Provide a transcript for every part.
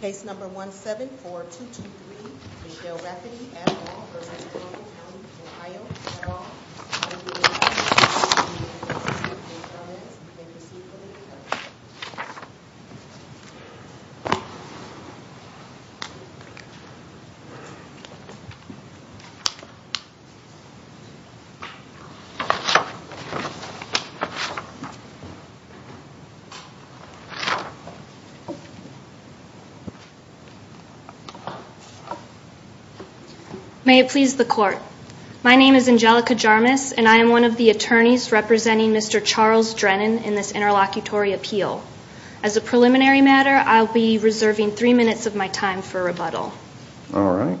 Case number 174223, Michele Rafferty et al. v. Trumbull County, Ohio et al. May it please the court. My name is Angelica Jarmus, and I am one of the attorneys representing Mr. Charles Drennan in this interlocutory appeal. As a preliminary matter, I'll be reserving three minutes of my time for rebuttal. All right.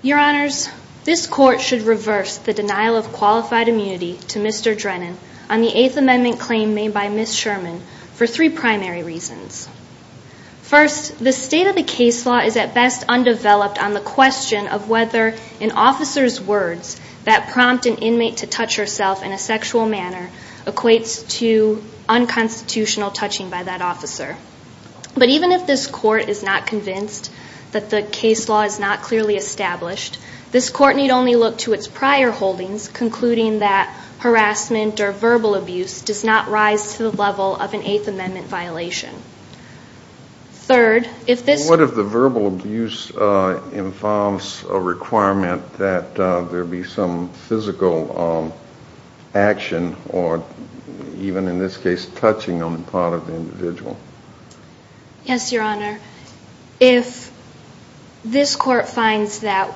Your Honors, this court should reverse the denial of qualified immunity to Mr. Drennan on the Eighth Amendment claim made by Ms. Sherman for three primary reasons. First, the state of the case law is at best undeveloped on the question of whether an officer's words that prompt an inmate to touch herself in a sexual manner equates to unconstitutional touching by that officer. But even if this court is not convinced that the case law is not clearly established, this court need only look to its prior holdings, concluding that harassment or verbal abuse does not rise to the level of an Eighth Amendment violation. Third, if this... What if the verbal abuse involves a requirement that there be some physical action, or even in this case, touching on the part of the individual? Yes, Your Honor. If this court finds that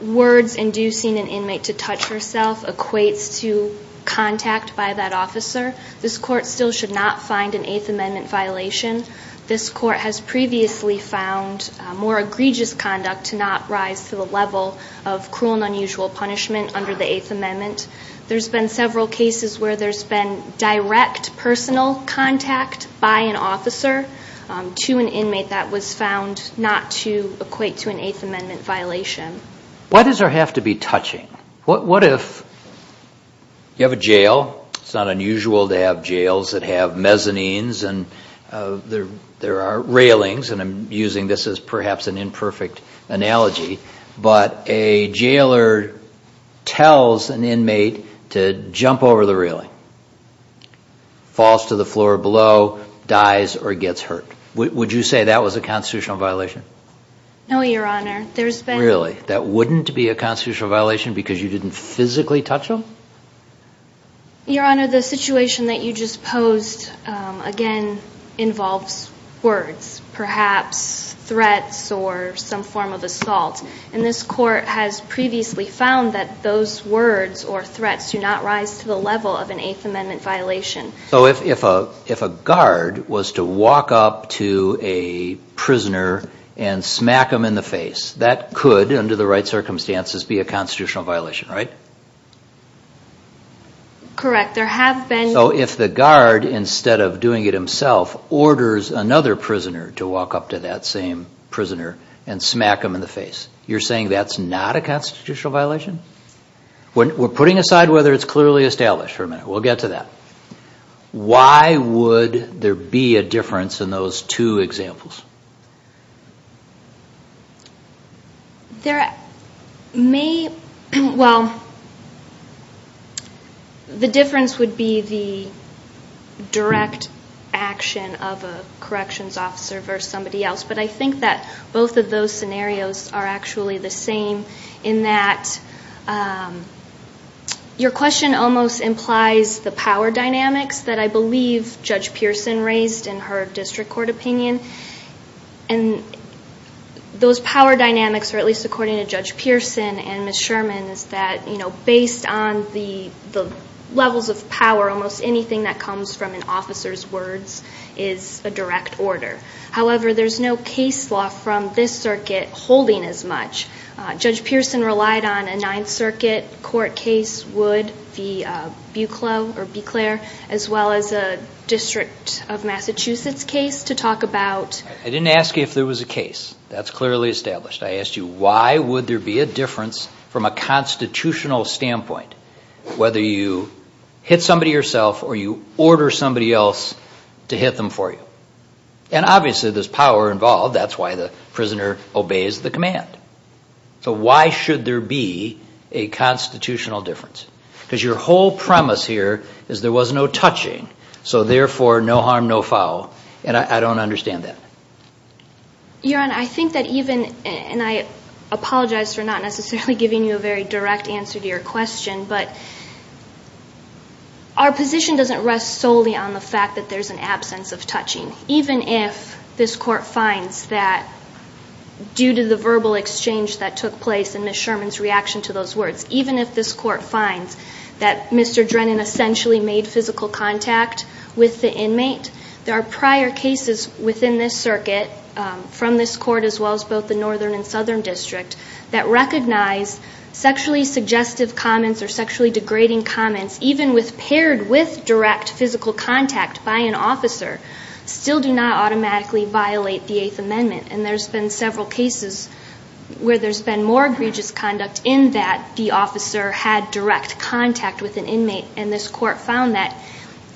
words inducing an inmate to touch herself equates to contact by that officer, this court still should not find an Eighth Amendment violation. This court has previously found more egregious conduct to not rise to the level of cruel and unusual punishment under the Eighth Amendment. There's been several cases where there's been direct personal contact by an officer to an inmate that was found not to equate to an Eighth Amendment violation. Why does there have to be touching? What if you have a jail? It's not unusual to have jails that have mezzanines and there are railings, and I'm using this as perhaps an imperfect analogy, but a jailer tells an inmate to jump over the railing, falls to the floor below, dies, or gets hurt. Would you say that was a constitutional violation? No, Your Honor. There's been... Really? That wouldn't be a constitutional violation because you didn't physically touch them? Your Honor, the situation that you just posed, again, involves words, perhaps threats or some form of assault. And this court has previously found that those words or threats do not rise to the level of an Eighth Amendment violation. So if a guard was to walk up to a prisoner and smack them in the face, that could, under the right circumstances, be a constitutional violation, right? Correct. There have been... So if the guard, instead of doing it himself, orders another prisoner to walk up to that same prisoner and smack them in the face, you're saying that's not a constitutional violation? We're putting aside whether it's clearly established for a minute. We'll get to that. Why would there be a difference in those two examples? There may... Well, the difference would be the direct action of a corrections officer versus somebody else. But I think that both of those scenarios are actually the same in that your question almost implies the power dynamics that I believe Judge Pearson raised in her district court opinion. And those power dynamics, or at least according to Judge Pearson and Ms. Sherman, is that based on the levels of power, almost anything that comes from an officer's words is a direct order. However, there's no case law from this circuit holding as much. Judge Pearson relied on a Ninth Circuit court case, Wood v. Buclair, as well as a district of Massachusetts case to talk about... I didn't ask you if there was a case. That's clearly established. I asked you why would there be a difference from a constitutional standpoint, whether you hit somebody yourself or you order somebody else to hit them for you. And obviously, there's power involved. That's why the prisoner obeys the command. So why should there be a constitutional difference? Because your whole premise here is there was no touching. So therefore, no harm, no foul. And I don't understand that. Your Honor, I think that even... And I apologize for not necessarily giving you a very direct answer to your question, but our position doesn't rest solely on the fact that there's an absence of touching. Even if this Court finds that due to the verbal exchange that took place and Ms. Sherman's reaction to those words, even if this Court finds that Mr. Drennan essentially made physical contact with the inmate, there are prior cases within this circuit from this Court as well as both the Northern and Southern District that recognize sexually suggestive comments or sexually degrading comments, even with paired with direct physical contact by an officer, still do not automatically violate the Eighth Amendment. And there's been several cases where there's been more egregious conduct in that the officer had direct contact with an inmate. And this Court found that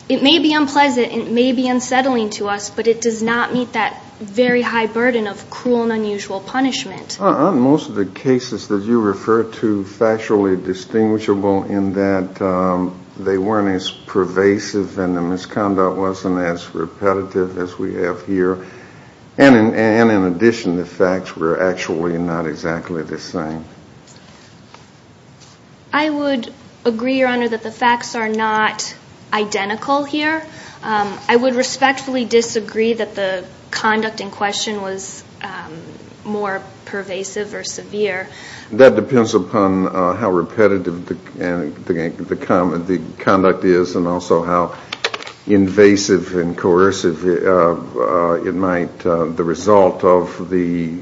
it may be unpleasant, it may be unsettling to us, but it does not meet that very high burden of cruel and unusual punishment. Are most of the cases that you refer to factually distinguishable in that they weren't as pervasive and the misconduct wasn't as repetitive as we have here? And in addition, the facts were actually not exactly the same? I would agree, Your Honor, that the facts are not identical here. I would respectfully disagree that the conduct in question was more pervasive or severe. That depends upon how repetitive the conduct is and also how invasive and coercive the result of the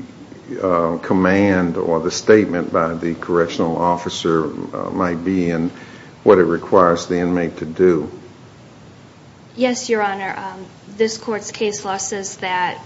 command or the statement by the correctional officer might be and what it requires the inmate to do. Yes, Your Honor. This Court's case law says that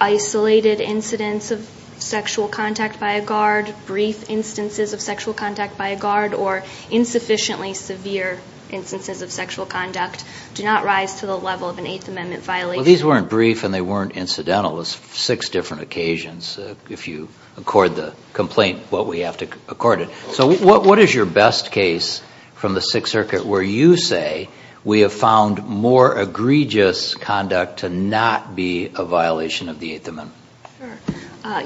isolated incidents of sexual contact by a guard, brief instances of sexual contact by a guard, or insufficiently severe instances of sexual conduct do not rise to the level of an Eighth Amendment violation. These weren't brief and they weren't incidental. It was six different occasions. If you accord the complaint what we have to accord it. So what is your best case from the Sixth Circuit where you say we have found more egregious conduct to not be a violation of the Eighth Amendment?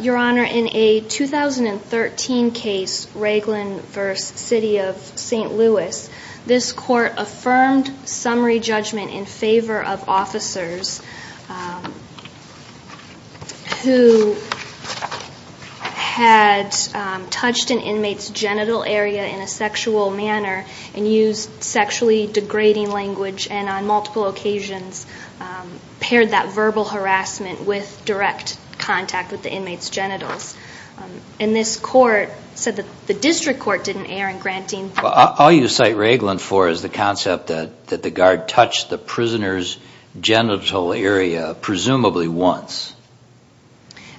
Your Honor, in a 2013 case, Raglan v. City of St. Louis, this Court affirmed summary judgment in favor of officers who had touched an inmate's genital area in a sexual manner and used sexually degrading language and on multiple occasions paired that verbal harassment with direct contact with the inmate's genitals. And this Court said that the District Court didn't err in granting... All you cite Raglan for is the concept that the guard touched the prisoner's genital area presumably once.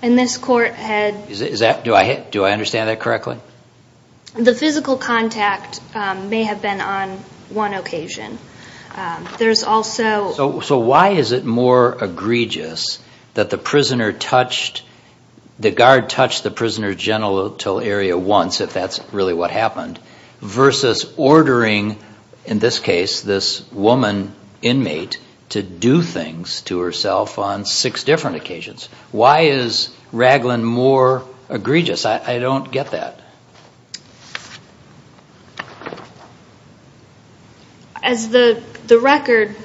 And this Court had... Do I understand that correctly? The physical contact may have been on one occasion. There's also... So why is it more egregious that the guard touched the prisoner's genital area once, if that's really what happened, versus ordering, in this case, this woman inmate to do things to herself on six different occasions? Why is Raglan more egregious? I don't get that. As the record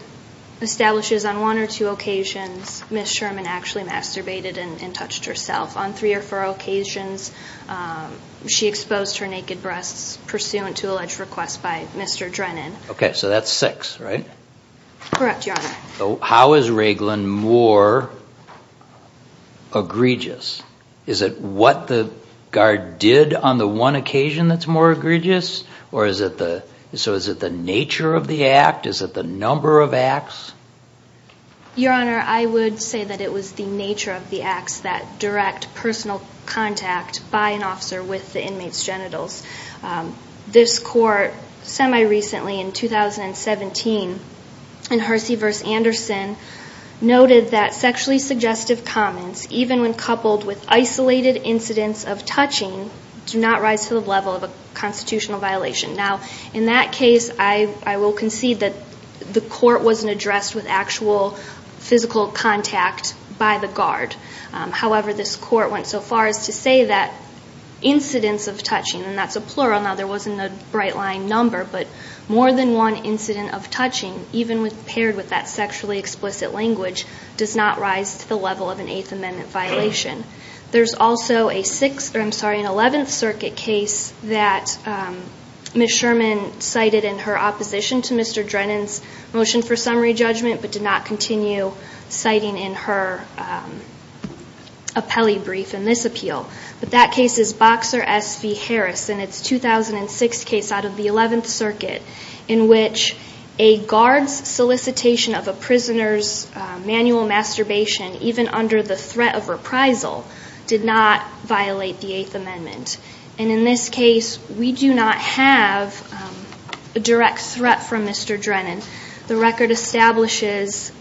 establishes, on one or two occasions, Ms. Sherman actually masturbated and touched herself. On three or four occasions, she exposed her naked breasts pursuant to alleged request by Mr. Drennan. Okay, so that's six, right? Correct, Your Honor. How is Raglan more egregious? Is it what the guard did on the one occasion that's more egregious? Or is it the... So is it the nature of the act? Is it the number of acts? Your Honor, I would say that it was the nature of the acts that direct personal contact by an officer with the inmate's genitals. This Court, semi-recently in 2017, in Hersey v. Anderson, noted that sexually suggestive comments, even when coupled with isolated incidents of touching, do not rise to the level of a constitutional violation. Now, in that case, I will concede that the Court wasn't addressed with actual physical contact by the guard. However, this Court went so far as to say that incidents of touching, and that's a plural, now there wasn't a bright line number, but more than one incident of sexually explicit language, does not rise to the level of an Eighth Amendment violation. There's also an Eleventh Circuit case that Ms. Sherman cited in her opposition to Mr. Drennan's motion for summary judgment, but did not continue citing in her appellee brief in this appeal. But that case is Boxer v. Harris, and it's a 2006 case out of the Eleventh Circuit, where prisoners' manual masturbation, even under the threat of reprisal, did not violate the Eighth Amendment. And in this case, we do not have a direct threat from Mr. Drennan. The record establishes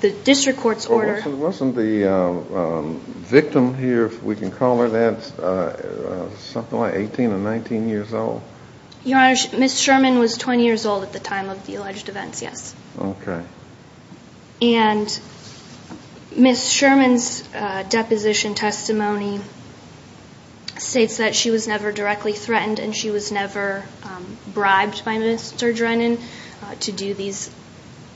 the district court's order... Well, wasn't the victim here, if we can call her that, something like 18 or 19 years old? Your Honor, Ms. Sherman was 20 years old at the time of the alleged events, yes. Okay. And Ms. Sherman's deposition testimony states that she was never directly threatened and she was never bribed by Mr. Drennan to do these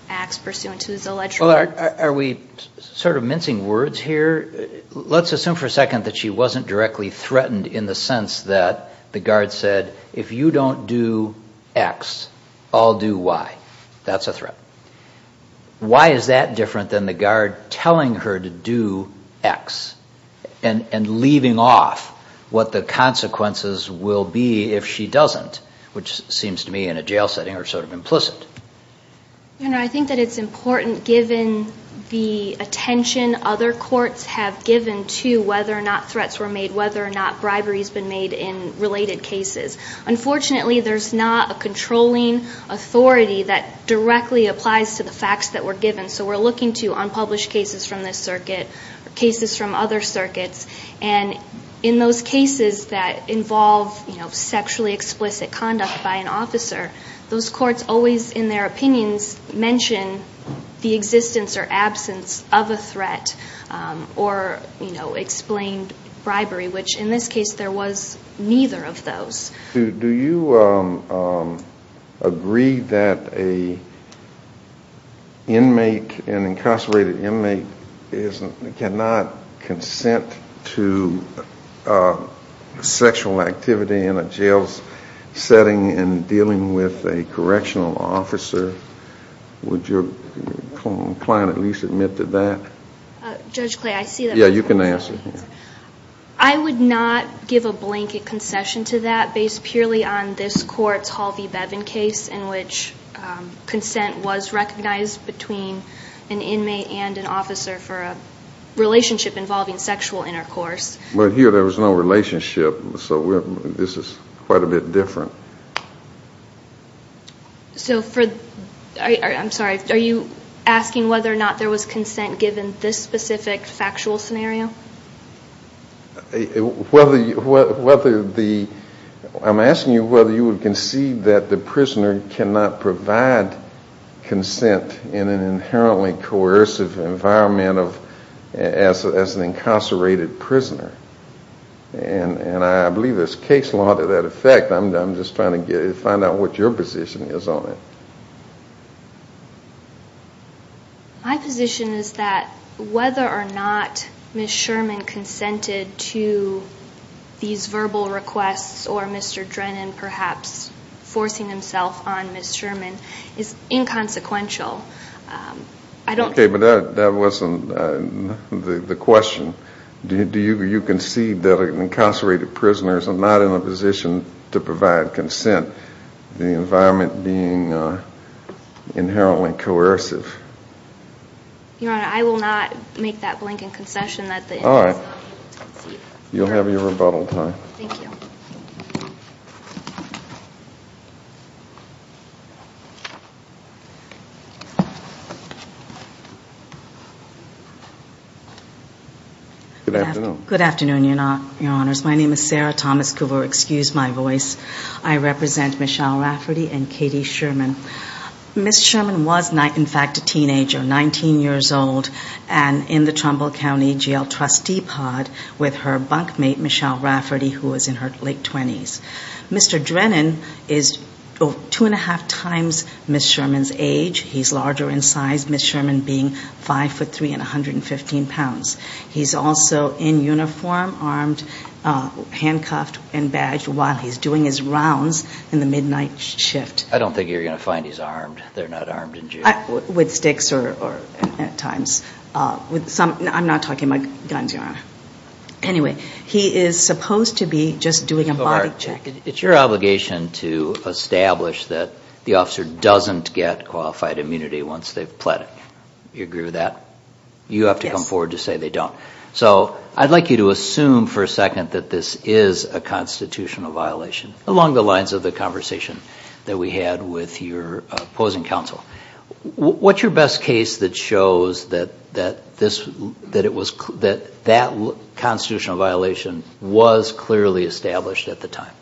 acts pursuant to his alleged... Are we sort of mincing words here? Let's assume for a second that she wasn't directly threatened in the sense that the guard said, if you don't do X, I'll do Y. That's a threat. Why is that different than the guard telling her to do X and leaving off what the consequences will be if she doesn't, which seems to me in a jail setting are sort of implicit. Your Honor, I think that it's important, given the attention other courts have given to whether or not threats were made, whether or not bribery has been made in related cases. Unfortunately, there's not a controlling authority that directly applies to the facts that were given. So we're looking to unpublished cases from this circuit or cases from other circuits. And in those cases that involve sexually explicit conduct by an officer, those courts always, in their opinions, mention the existence or absence of a threat or explain, you know, whether or not there's been bribery, which in this case there was neither of those. Do you agree that an inmate, an incarcerated inmate, cannot consent to sexual activity in a jail setting and dealing with a correctional officer? Would your client at least admit to that? Judge Clay, I see that... Yeah, you can answer. I would not give a blanket concession to that based purely on this Court's Halvey-Bevin case in which consent was recognized between an inmate and an officer for a relationship involving sexual intercourse. But here there was no relationship, so this is quite a bit different. So for... I'm sorry, are you asking whether or not there was consent given this specific factual scenario? Whether the... I'm asking you whether you would concede that the prisoner cannot provide consent in an inherently coercive environment of... as an incarcerated prisoner. And I believe there's case law to that effect. I'm just trying to find out what your position is on it. My position is that whether or not Ms. Sherman consented to these verbal requests or Mr. Drennan perhaps forcing himself on Ms. Sherman is inconsequential. I don't... Okay, but that wasn't the question. Do you concede that incarcerated prisoners are not in a position to provide consent, the environment being inherently coercive? Your Honor, I will not make that blanket concession that the inmates... All right. You'll have your rebuttal time. Thank you. Good afternoon. Good afternoon, Your Honors. My name is Sarah Thomas-Coover, excuse my voice. I represent Michelle Rafferty and Katie Sherman. Ms. Sherman was, in fact, a teenager, 19 years old, and in the Trumbull County Jail trustee pod with her bunkmate, Michelle Rafferty, who was in her late 20s. Mr. Drennan is two and a half times Ms. Sherman's age. He's larger in size, with Ms. Sherman being five foot three and 115 pounds. He's also in uniform, armed, handcuffed and badged while he's doing his rounds in the midnight shift. I don't think you're going to find he's armed. They're not armed in jail. With sticks or at times. I'm not talking about guns, Your Honor. Anyway, he is supposed to be just doing a body check. It's your obligation to establish that the officer doesn't get qualified immunity once they've pleaded. Do you agree with that? You have to come forward to say they don't. So I'd like you to assume for a second that this is a constitutional violation, along the lines of the conversation that we had with your opposing counsel. What's your best case that shows that that constitutional violation was clearly established at the time?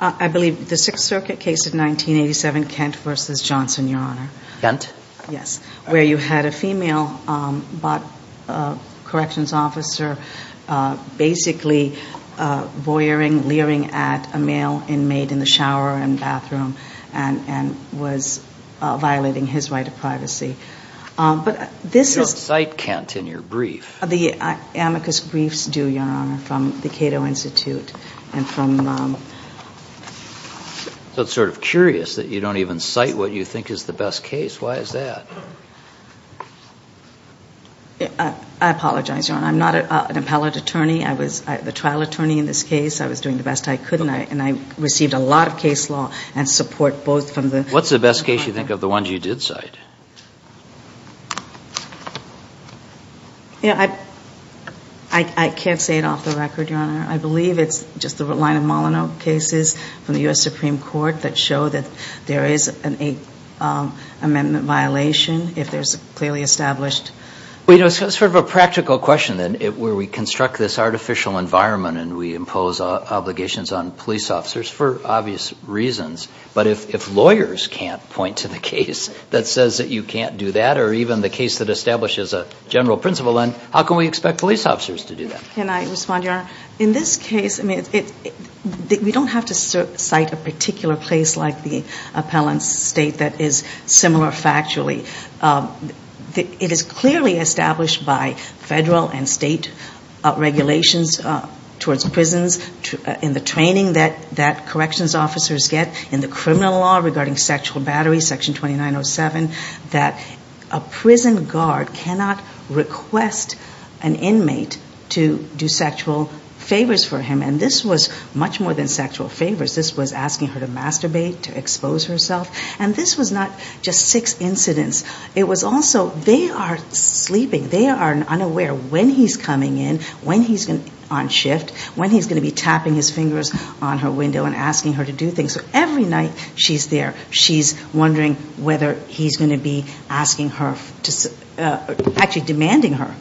I believe the Sixth Circuit case of 1987, Kent v. Johnson, Your Honor. Kent? Yes. Where you had a female corrections officer basically voyeuring, leering at a male inmate in the shower and bathroom and was violating his right of privacy. You don't cite Kent in your brief. The amicus briefs do, Your Honor, from the Cato Institute and from... So it's sort of curious that you don't even cite what you think is the best case. Why is that? I apologize, Your Honor. I'm not an appellate attorney. I was the trial attorney in this case. I was doing the best I could, and I received a lot of case law and support both from the... What's the best case you think of the ones you did cite? I can't say it off the record, Your Honor. I believe it's just the line of Molyneux cases from the U.S. Supreme Court that show that there is an eight-amendment violation if there's clearly established... Well, you know, it's sort of a practical question, then, where we construct this artificial environment and we impose obligations on police officers for obvious reasons. But if lawyers can't point to the case that says that you can't do that or even the case that establishes a general principle, then how can we expect police officers to do that? Can I respond, Your Honor? In this case, I mean, we don't have to cite a particular case like the appellant's state that is similar factually. It is clearly established by federal and state regulations towards prisons in the training that corrections officers get in the criminal law regarding sexual battery, Section 2907, that a prison guard cannot request an inmate to do sexual favors for him. And this was much more than sexual favors. This was asking her to masturbate, to expose herself. And this was not just six incidents. It was also they are sleeping. They are unaware when he's coming in, when he's on shift, when he's going to be tapping his fingers on her window and asking her to do things. So every night she's there. She's wondering whether he's going to be asking her, actually demanding her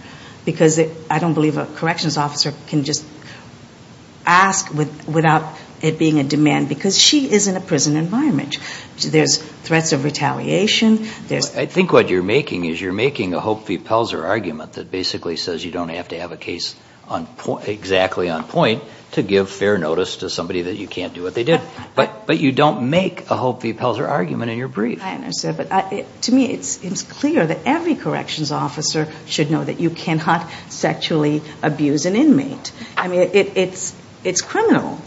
because I don't believe a corrections officer can just ask without it being a demand because she is in a prison environment. There's threats of retaliation. I think what you're making is you're making a Hope v. Pelzer argument that basically says you don't have to have a case exactly on point to give fair notice to somebody that you can't do what they did. But you don't make a Hope v. Pelzer argument in your brief. To me it's clear that every corrections officer should know that you cannot sexually abuse an inmate. I mean, it's criminal.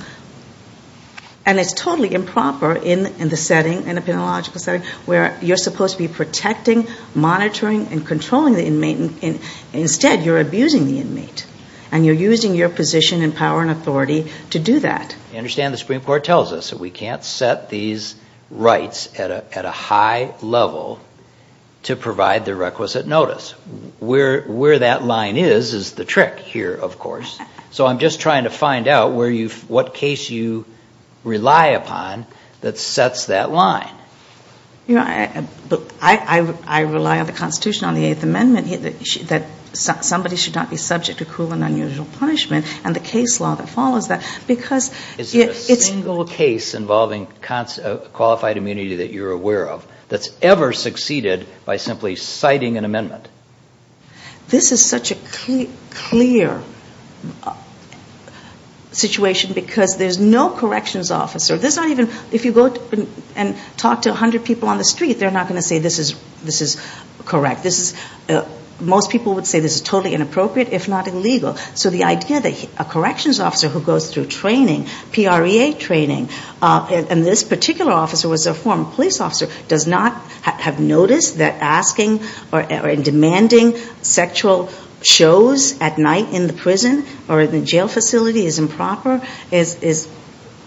And it's totally improper in the setting, in a penological setting, where you're supposed to be protecting, monitoring and controlling the inmate. Instead you're abusing the inmate. And you're using your position and power and authority to do that. I understand the Supreme Court tells us that we can't set these rights at a high level to provide the requisite notice. Where that line is is the trick here, of course. So I'm just trying to find out what case you rely upon that sets that line. I rely on the Constitution, on the Eighth Amendment, that somebody should not be subject to cruel and unusual punishment. And the case law that follows that. Is there a single case involving qualified immunity that you're aware of that's ever succeeded by simply citing an amendment? This is such a clear situation because there's no corrections officer. If you go and talk to 100 people on the street, they're not going to say this is correct. Most people would say this is totally inappropriate, if not illegal. So the idea that a corrections officer who goes through training, PREA training, and this particular officer was a former police officer, does not have noticed that asking or demanding sexual shows at night in the prison or in the jail facility is improper, is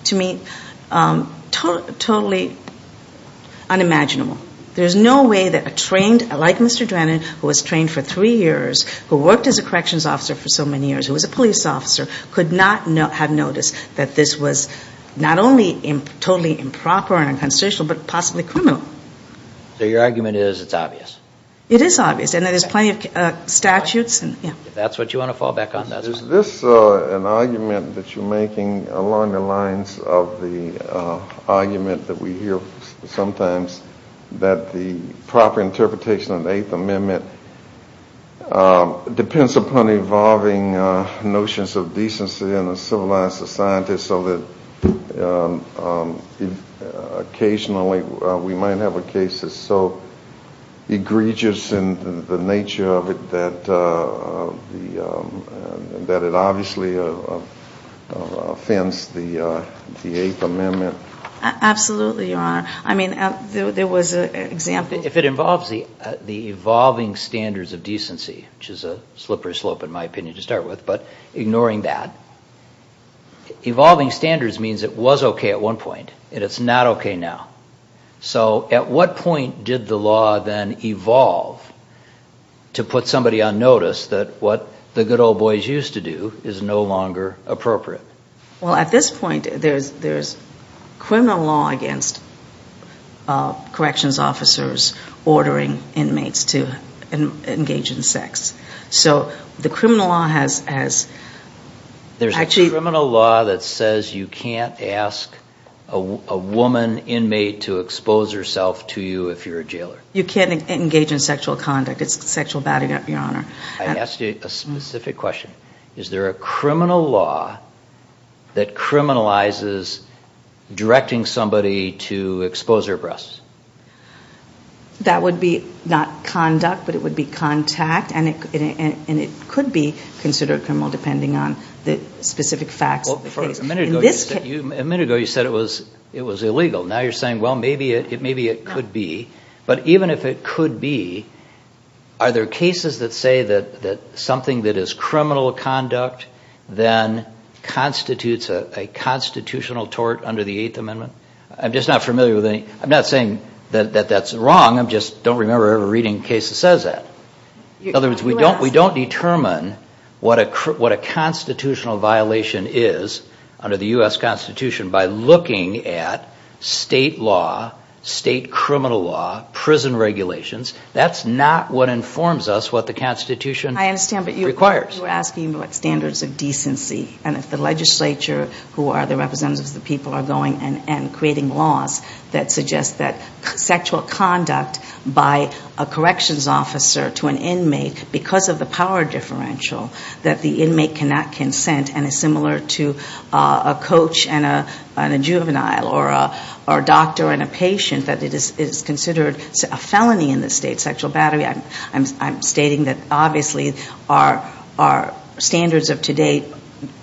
to me totally unimaginable. There's no way that a trained, like Mr. Drennan, who was trained for three years, who worked as a corrections officer for so many years, who was a police officer, could not have noticed that this was not only totally improper and unconstitutional, but possibly criminal. So your argument is it's obvious? It is obvious. And there's plenty of statutes. That's what you want to fall back on? Is this an argument that you're making along the lines of the argument that we hear sometimes that the proper interpretation of the Eighth Amendment depends upon evolving notions of decency in a civilized society so that occasionally we might have a case that's so egregious in the nature of it that it obviously offends the Eighth Amendment? Absolutely, Your Honor. I mean, there was an example... If it involves the evolving standards of decency, which is a slippery slope in my opinion to start with, but ignoring that, evolving standards means it was okay at one point and it's not okay now. So at what point did the law then evolve to put somebody on notice that what the good old boys used to do is no longer appropriate? Well, at this point, there's criminal law against corrections officers ordering inmates to engage in sex. So the criminal law has... There's a criminal law that says you can't ask a woman inmate to expose herself to you if you're a jailer? You can't engage in sexual conduct. It's sexual batting up, Your Honor. I asked you a specific question. Is there a criminal law that criminalizes directing somebody to expose their breasts? That would be not conduct, but it would be contact, and it could be considered criminal depending on the specific facts of the case. A minute ago, you said it was illegal. Now you're saying, well, maybe it could be. But even if it could be, are there cases that say that something that is criminal conduct then constitutes a constitutional tort under the Eighth Amendment? I'm just not familiar with any... I'm not saying that that's wrong. I just don't remember ever reading a case that says that. In other words, we don't determine what a constitutional violation is under the laws and regulations. That's not what informs us what the Constitution requires. I understand, but you were asking about standards of decency. And if the legislature, who are the representatives of the people, are going and creating laws that suggest that sexual conduct by a corrections officer to an inmate because of the power differential that the inmate cannot consent and is similar to a coach and a juvenile or a doctor and a patient that it is considered a felony in the state, sexual battery, I'm stating that obviously our standards of today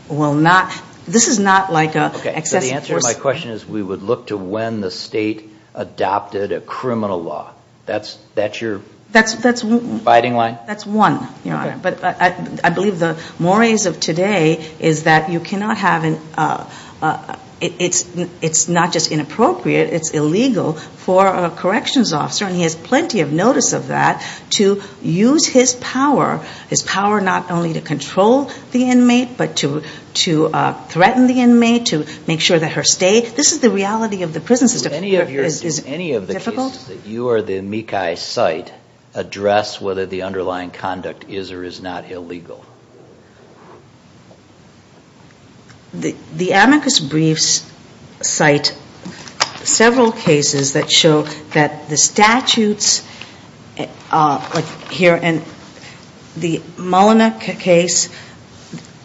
will not... This is not like an excessive force... Okay. So the answer to my question is we would look to when the state adopted a criminal law. That's your fighting line? That's one. But I believe the mores of today is that you cannot have... It's not just inappropriate, it's illegal for a corrections officer, and he has plenty of notice of that, to use his power, his power not only to control the inmate, but to threaten the inmate, to make sure that her stay... This is the reality of the prison system. Do any of the cases that you or the MECI site address whether the underlying conduct is or is not illegal? The amicus briefs cite several cases that show that the statutes, like here, and the Molina case,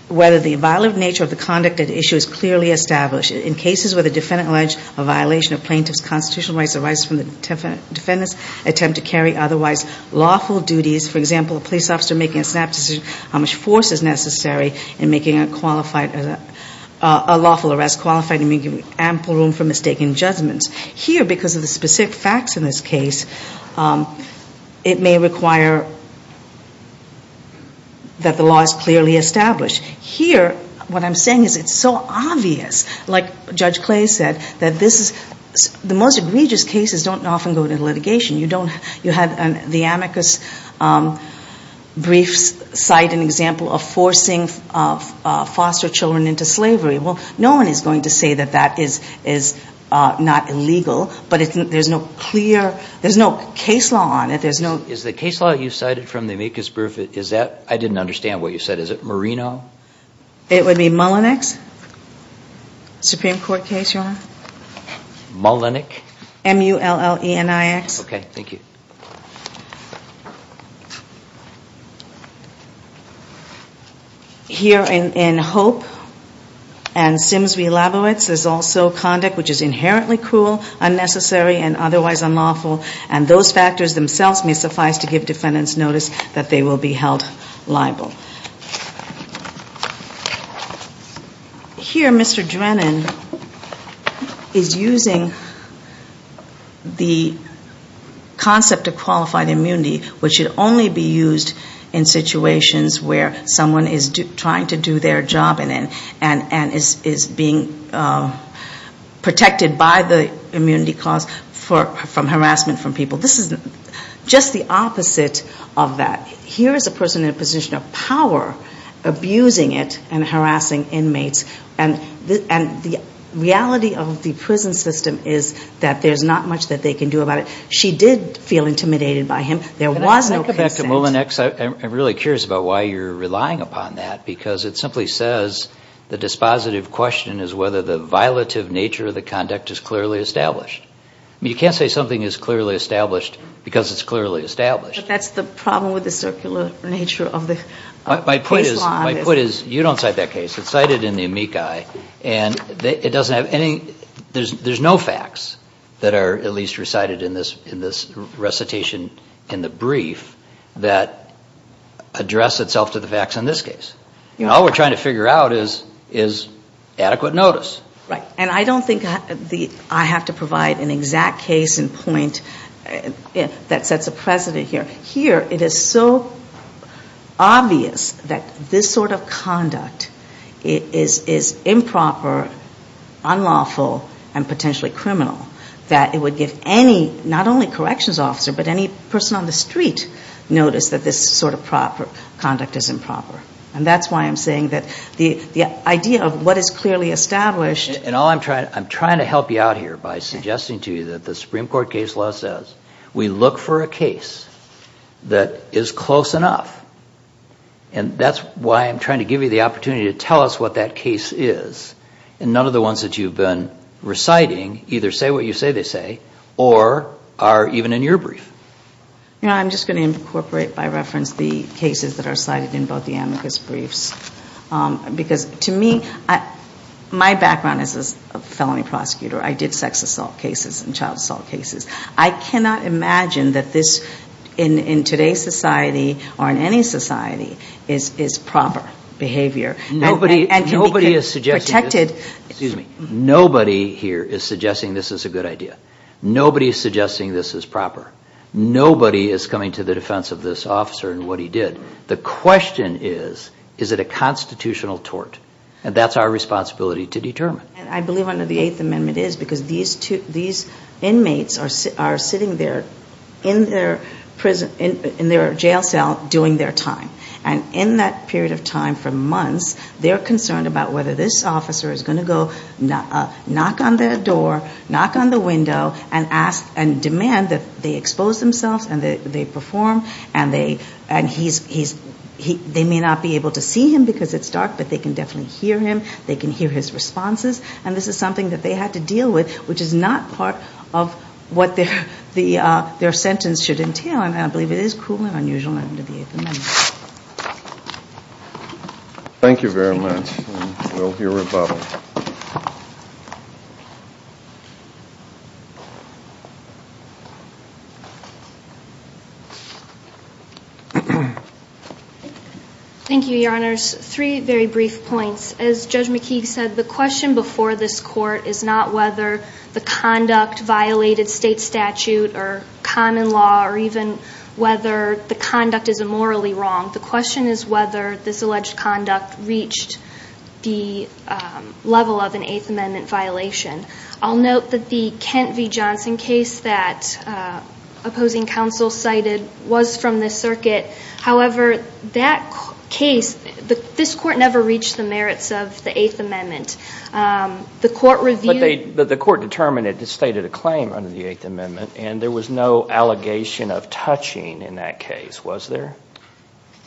whether the violent nature of the conduct at issue is clearly established. In cases where the defendant alleged a violation of plaintiff's constitutional rights or rights from the defendant's attempt to carry otherwise lawful duties, for example, a police officer making a snap decision on how much force is necessary in making a lawful arrest qualified and giving ample room for mistaken judgments. Here, because of the specific facts in this case, it may require that the law is clearly established. Here what I'm saying is it's so obvious, like Judge Clay said, that the most egregious cases don't often go to litigation. You have the amicus briefs cite an example of forcing foster children into slavery. Well, no one is going to say that that is not illegal, but there's no clear, there's no case law on it, there's no... Is the case law you cited from the amicus brief, is that, I didn't understand what you said, is it Merino? It would be Mullenix? Supreme Court case, Your Honor? Mullenix? M-U-L-L-E-N-I-X. Okay, thank you. Here in Hope and Sims v. Labowitz, there's also conduct which is inherently cruel, unnecessary and otherwise unlawful, and those factors themselves may suffice to give defendants notice that they will be held liable. Here, Mr. Drennan is using the concept of qualified immunity, which should only be used in situations where someone is trying to do their job in it and is being protected by the immunity clause from harassment from people. This is just the opposite of that. Here is a person in a position of power, abusing it and harassing inmates, and the reality of the prison system is that there's not much that they can do about it. She did feel intimidated by him. There was no consent. Can I go back to Mullenix? I'm really curious about why you're relying upon that, because it simply says the dispositive question is whether the violative nature of the conduct is clearly established. You can't say something is clearly established because it's clearly established. But that's the problem with the circular nature of the case law. My point is you don't cite that case. It's cited in the amici, and it doesn't have any – there's no facts that are at least recited in this recitation in the brief that address itself to the facts in this case. All we're trying to figure out is adequate notice. Right. And I don't think I have to provide an exact case in point that sets a precedent here. Here it is so obvious that this sort of conduct is improper, unlawful, and potentially criminal that it would give any, not only corrections officer, but any person on the street notice that this sort of conduct is improper. And that's why I'm saying that the idea of what is clearly established – And all I'm trying – I'm trying to help you out here by suggesting to you that the Supreme Court case law says we look for a case that is close enough. And that's why I'm trying to give you the opportunity to tell us what that case is. And none of the ones that you've been reciting either say what you say they say or are even in your brief. I'm just going to incorporate by reference the cases that are cited in both the amicus briefs. Because to me, my background is as a felony prosecutor. I did sex assault cases and child assault cases. I cannot imagine that this in today's society or in any society is proper behavior. Nobody is suggesting this is a good idea. Nobody is suggesting this is proper. Nobody is coming to the defense of this officer and what he did. The question is, is it a constitutional tort? And that's our responsibility to determine. And I believe under the Eighth Amendment is because these inmates are sitting there in their jail cell doing their time. And in that period of time for months, they're concerned about whether this officer is going to go knock on their door, knock on the window, and ask and demand that they expose themselves and they perform. And they may not be able to see him because it's dark, but they can definitely hear him. They can hear his responses. And this is something that they had to deal with, which is not part of what their sentence should entail. And I believe it is cool and unusual under the Eighth Amendment. Thank you very much. And we'll hear rebuttal. Thank you, Your Honors. Three very brief points. As Judge McKeague said, the question before this Court is not whether the conduct violated state statute or common law or even whether the conduct is immorally wrong. The question is whether this alleged conduct reached the level of an Eighth Amendment violation. I'll note that the Kent v. Johnson case that opposing counsel cited was from this circuit. However, that case, this Court never reached the merits of the Eighth Amendment. The Court reviewed... But the Court determined it had stated a claim under the Eighth Amendment, and there was no allegation of touching in that case, was there?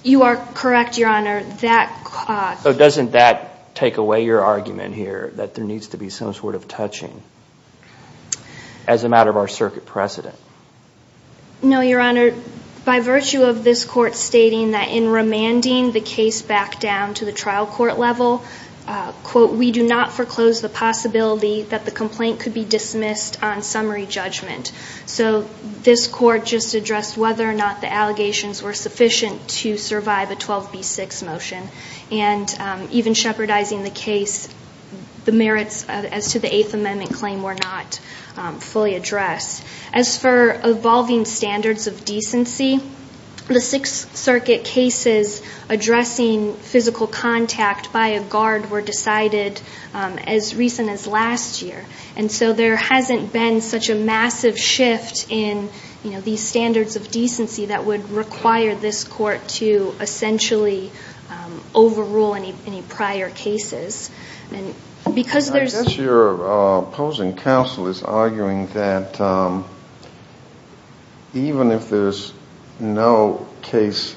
You are correct, Your Honor. So doesn't that take away your argument here that there needs to be some sort of touching as a matter of our circuit precedent? No, Your Honor. By virtue of this Court stating that in remanding the case back down to the trial court level, quote, we do not foreclose the possibility that the complaint could be This Court just addressed whether or not the allegations were sufficient to survive a 12B6 motion. And even shepherdizing the case, the merits as to the Eighth Amendment claim were not fully addressed. As for evolving standards of decency, the Sixth Circuit cases addressing physical contact by a guard were decided as recent as last year. And so there hasn't been such a massive shift in these standards of decency that would require this Court to essentially overrule any prior cases. I'm not sure opposing counsel is arguing that even if there's no case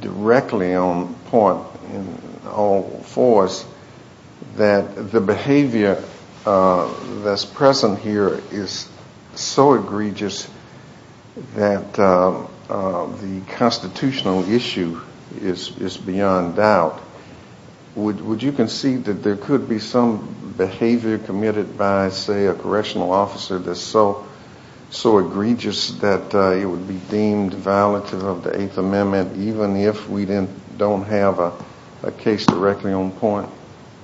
directly on point for us, that the behavior that's present here is so egregious that the constitutional issue is beyond doubt. Would you concede that there could be some behavior committed by, say, a correctional officer that's so egregious that it would be deemed violative of the Eighth Amendment?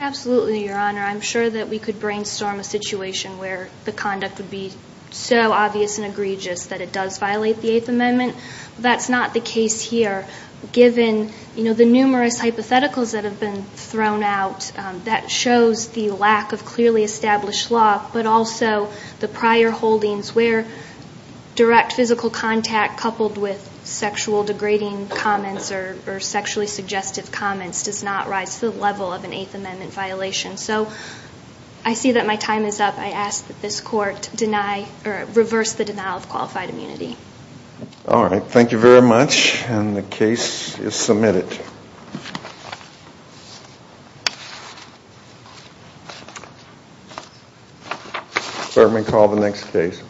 Absolutely, Your Honor. I'm sure that we could brainstorm a situation where the conduct would be so obvious and egregious that it does violate the Eighth Amendment. That's not the case here, given the numerous hypotheticals that have been thrown out that shows the lack of clearly established law, but also the prior holdings where direct physical contact coupled with sexual degrading comments or sexually suggestive comments does not rise to the level of an Eighth Amendment violation. So I see that my time is up. I ask that this Court reverse the denial of qualified immunity. All right. Thank you very much. And the case is submitted. Let me call the next case. Thank you.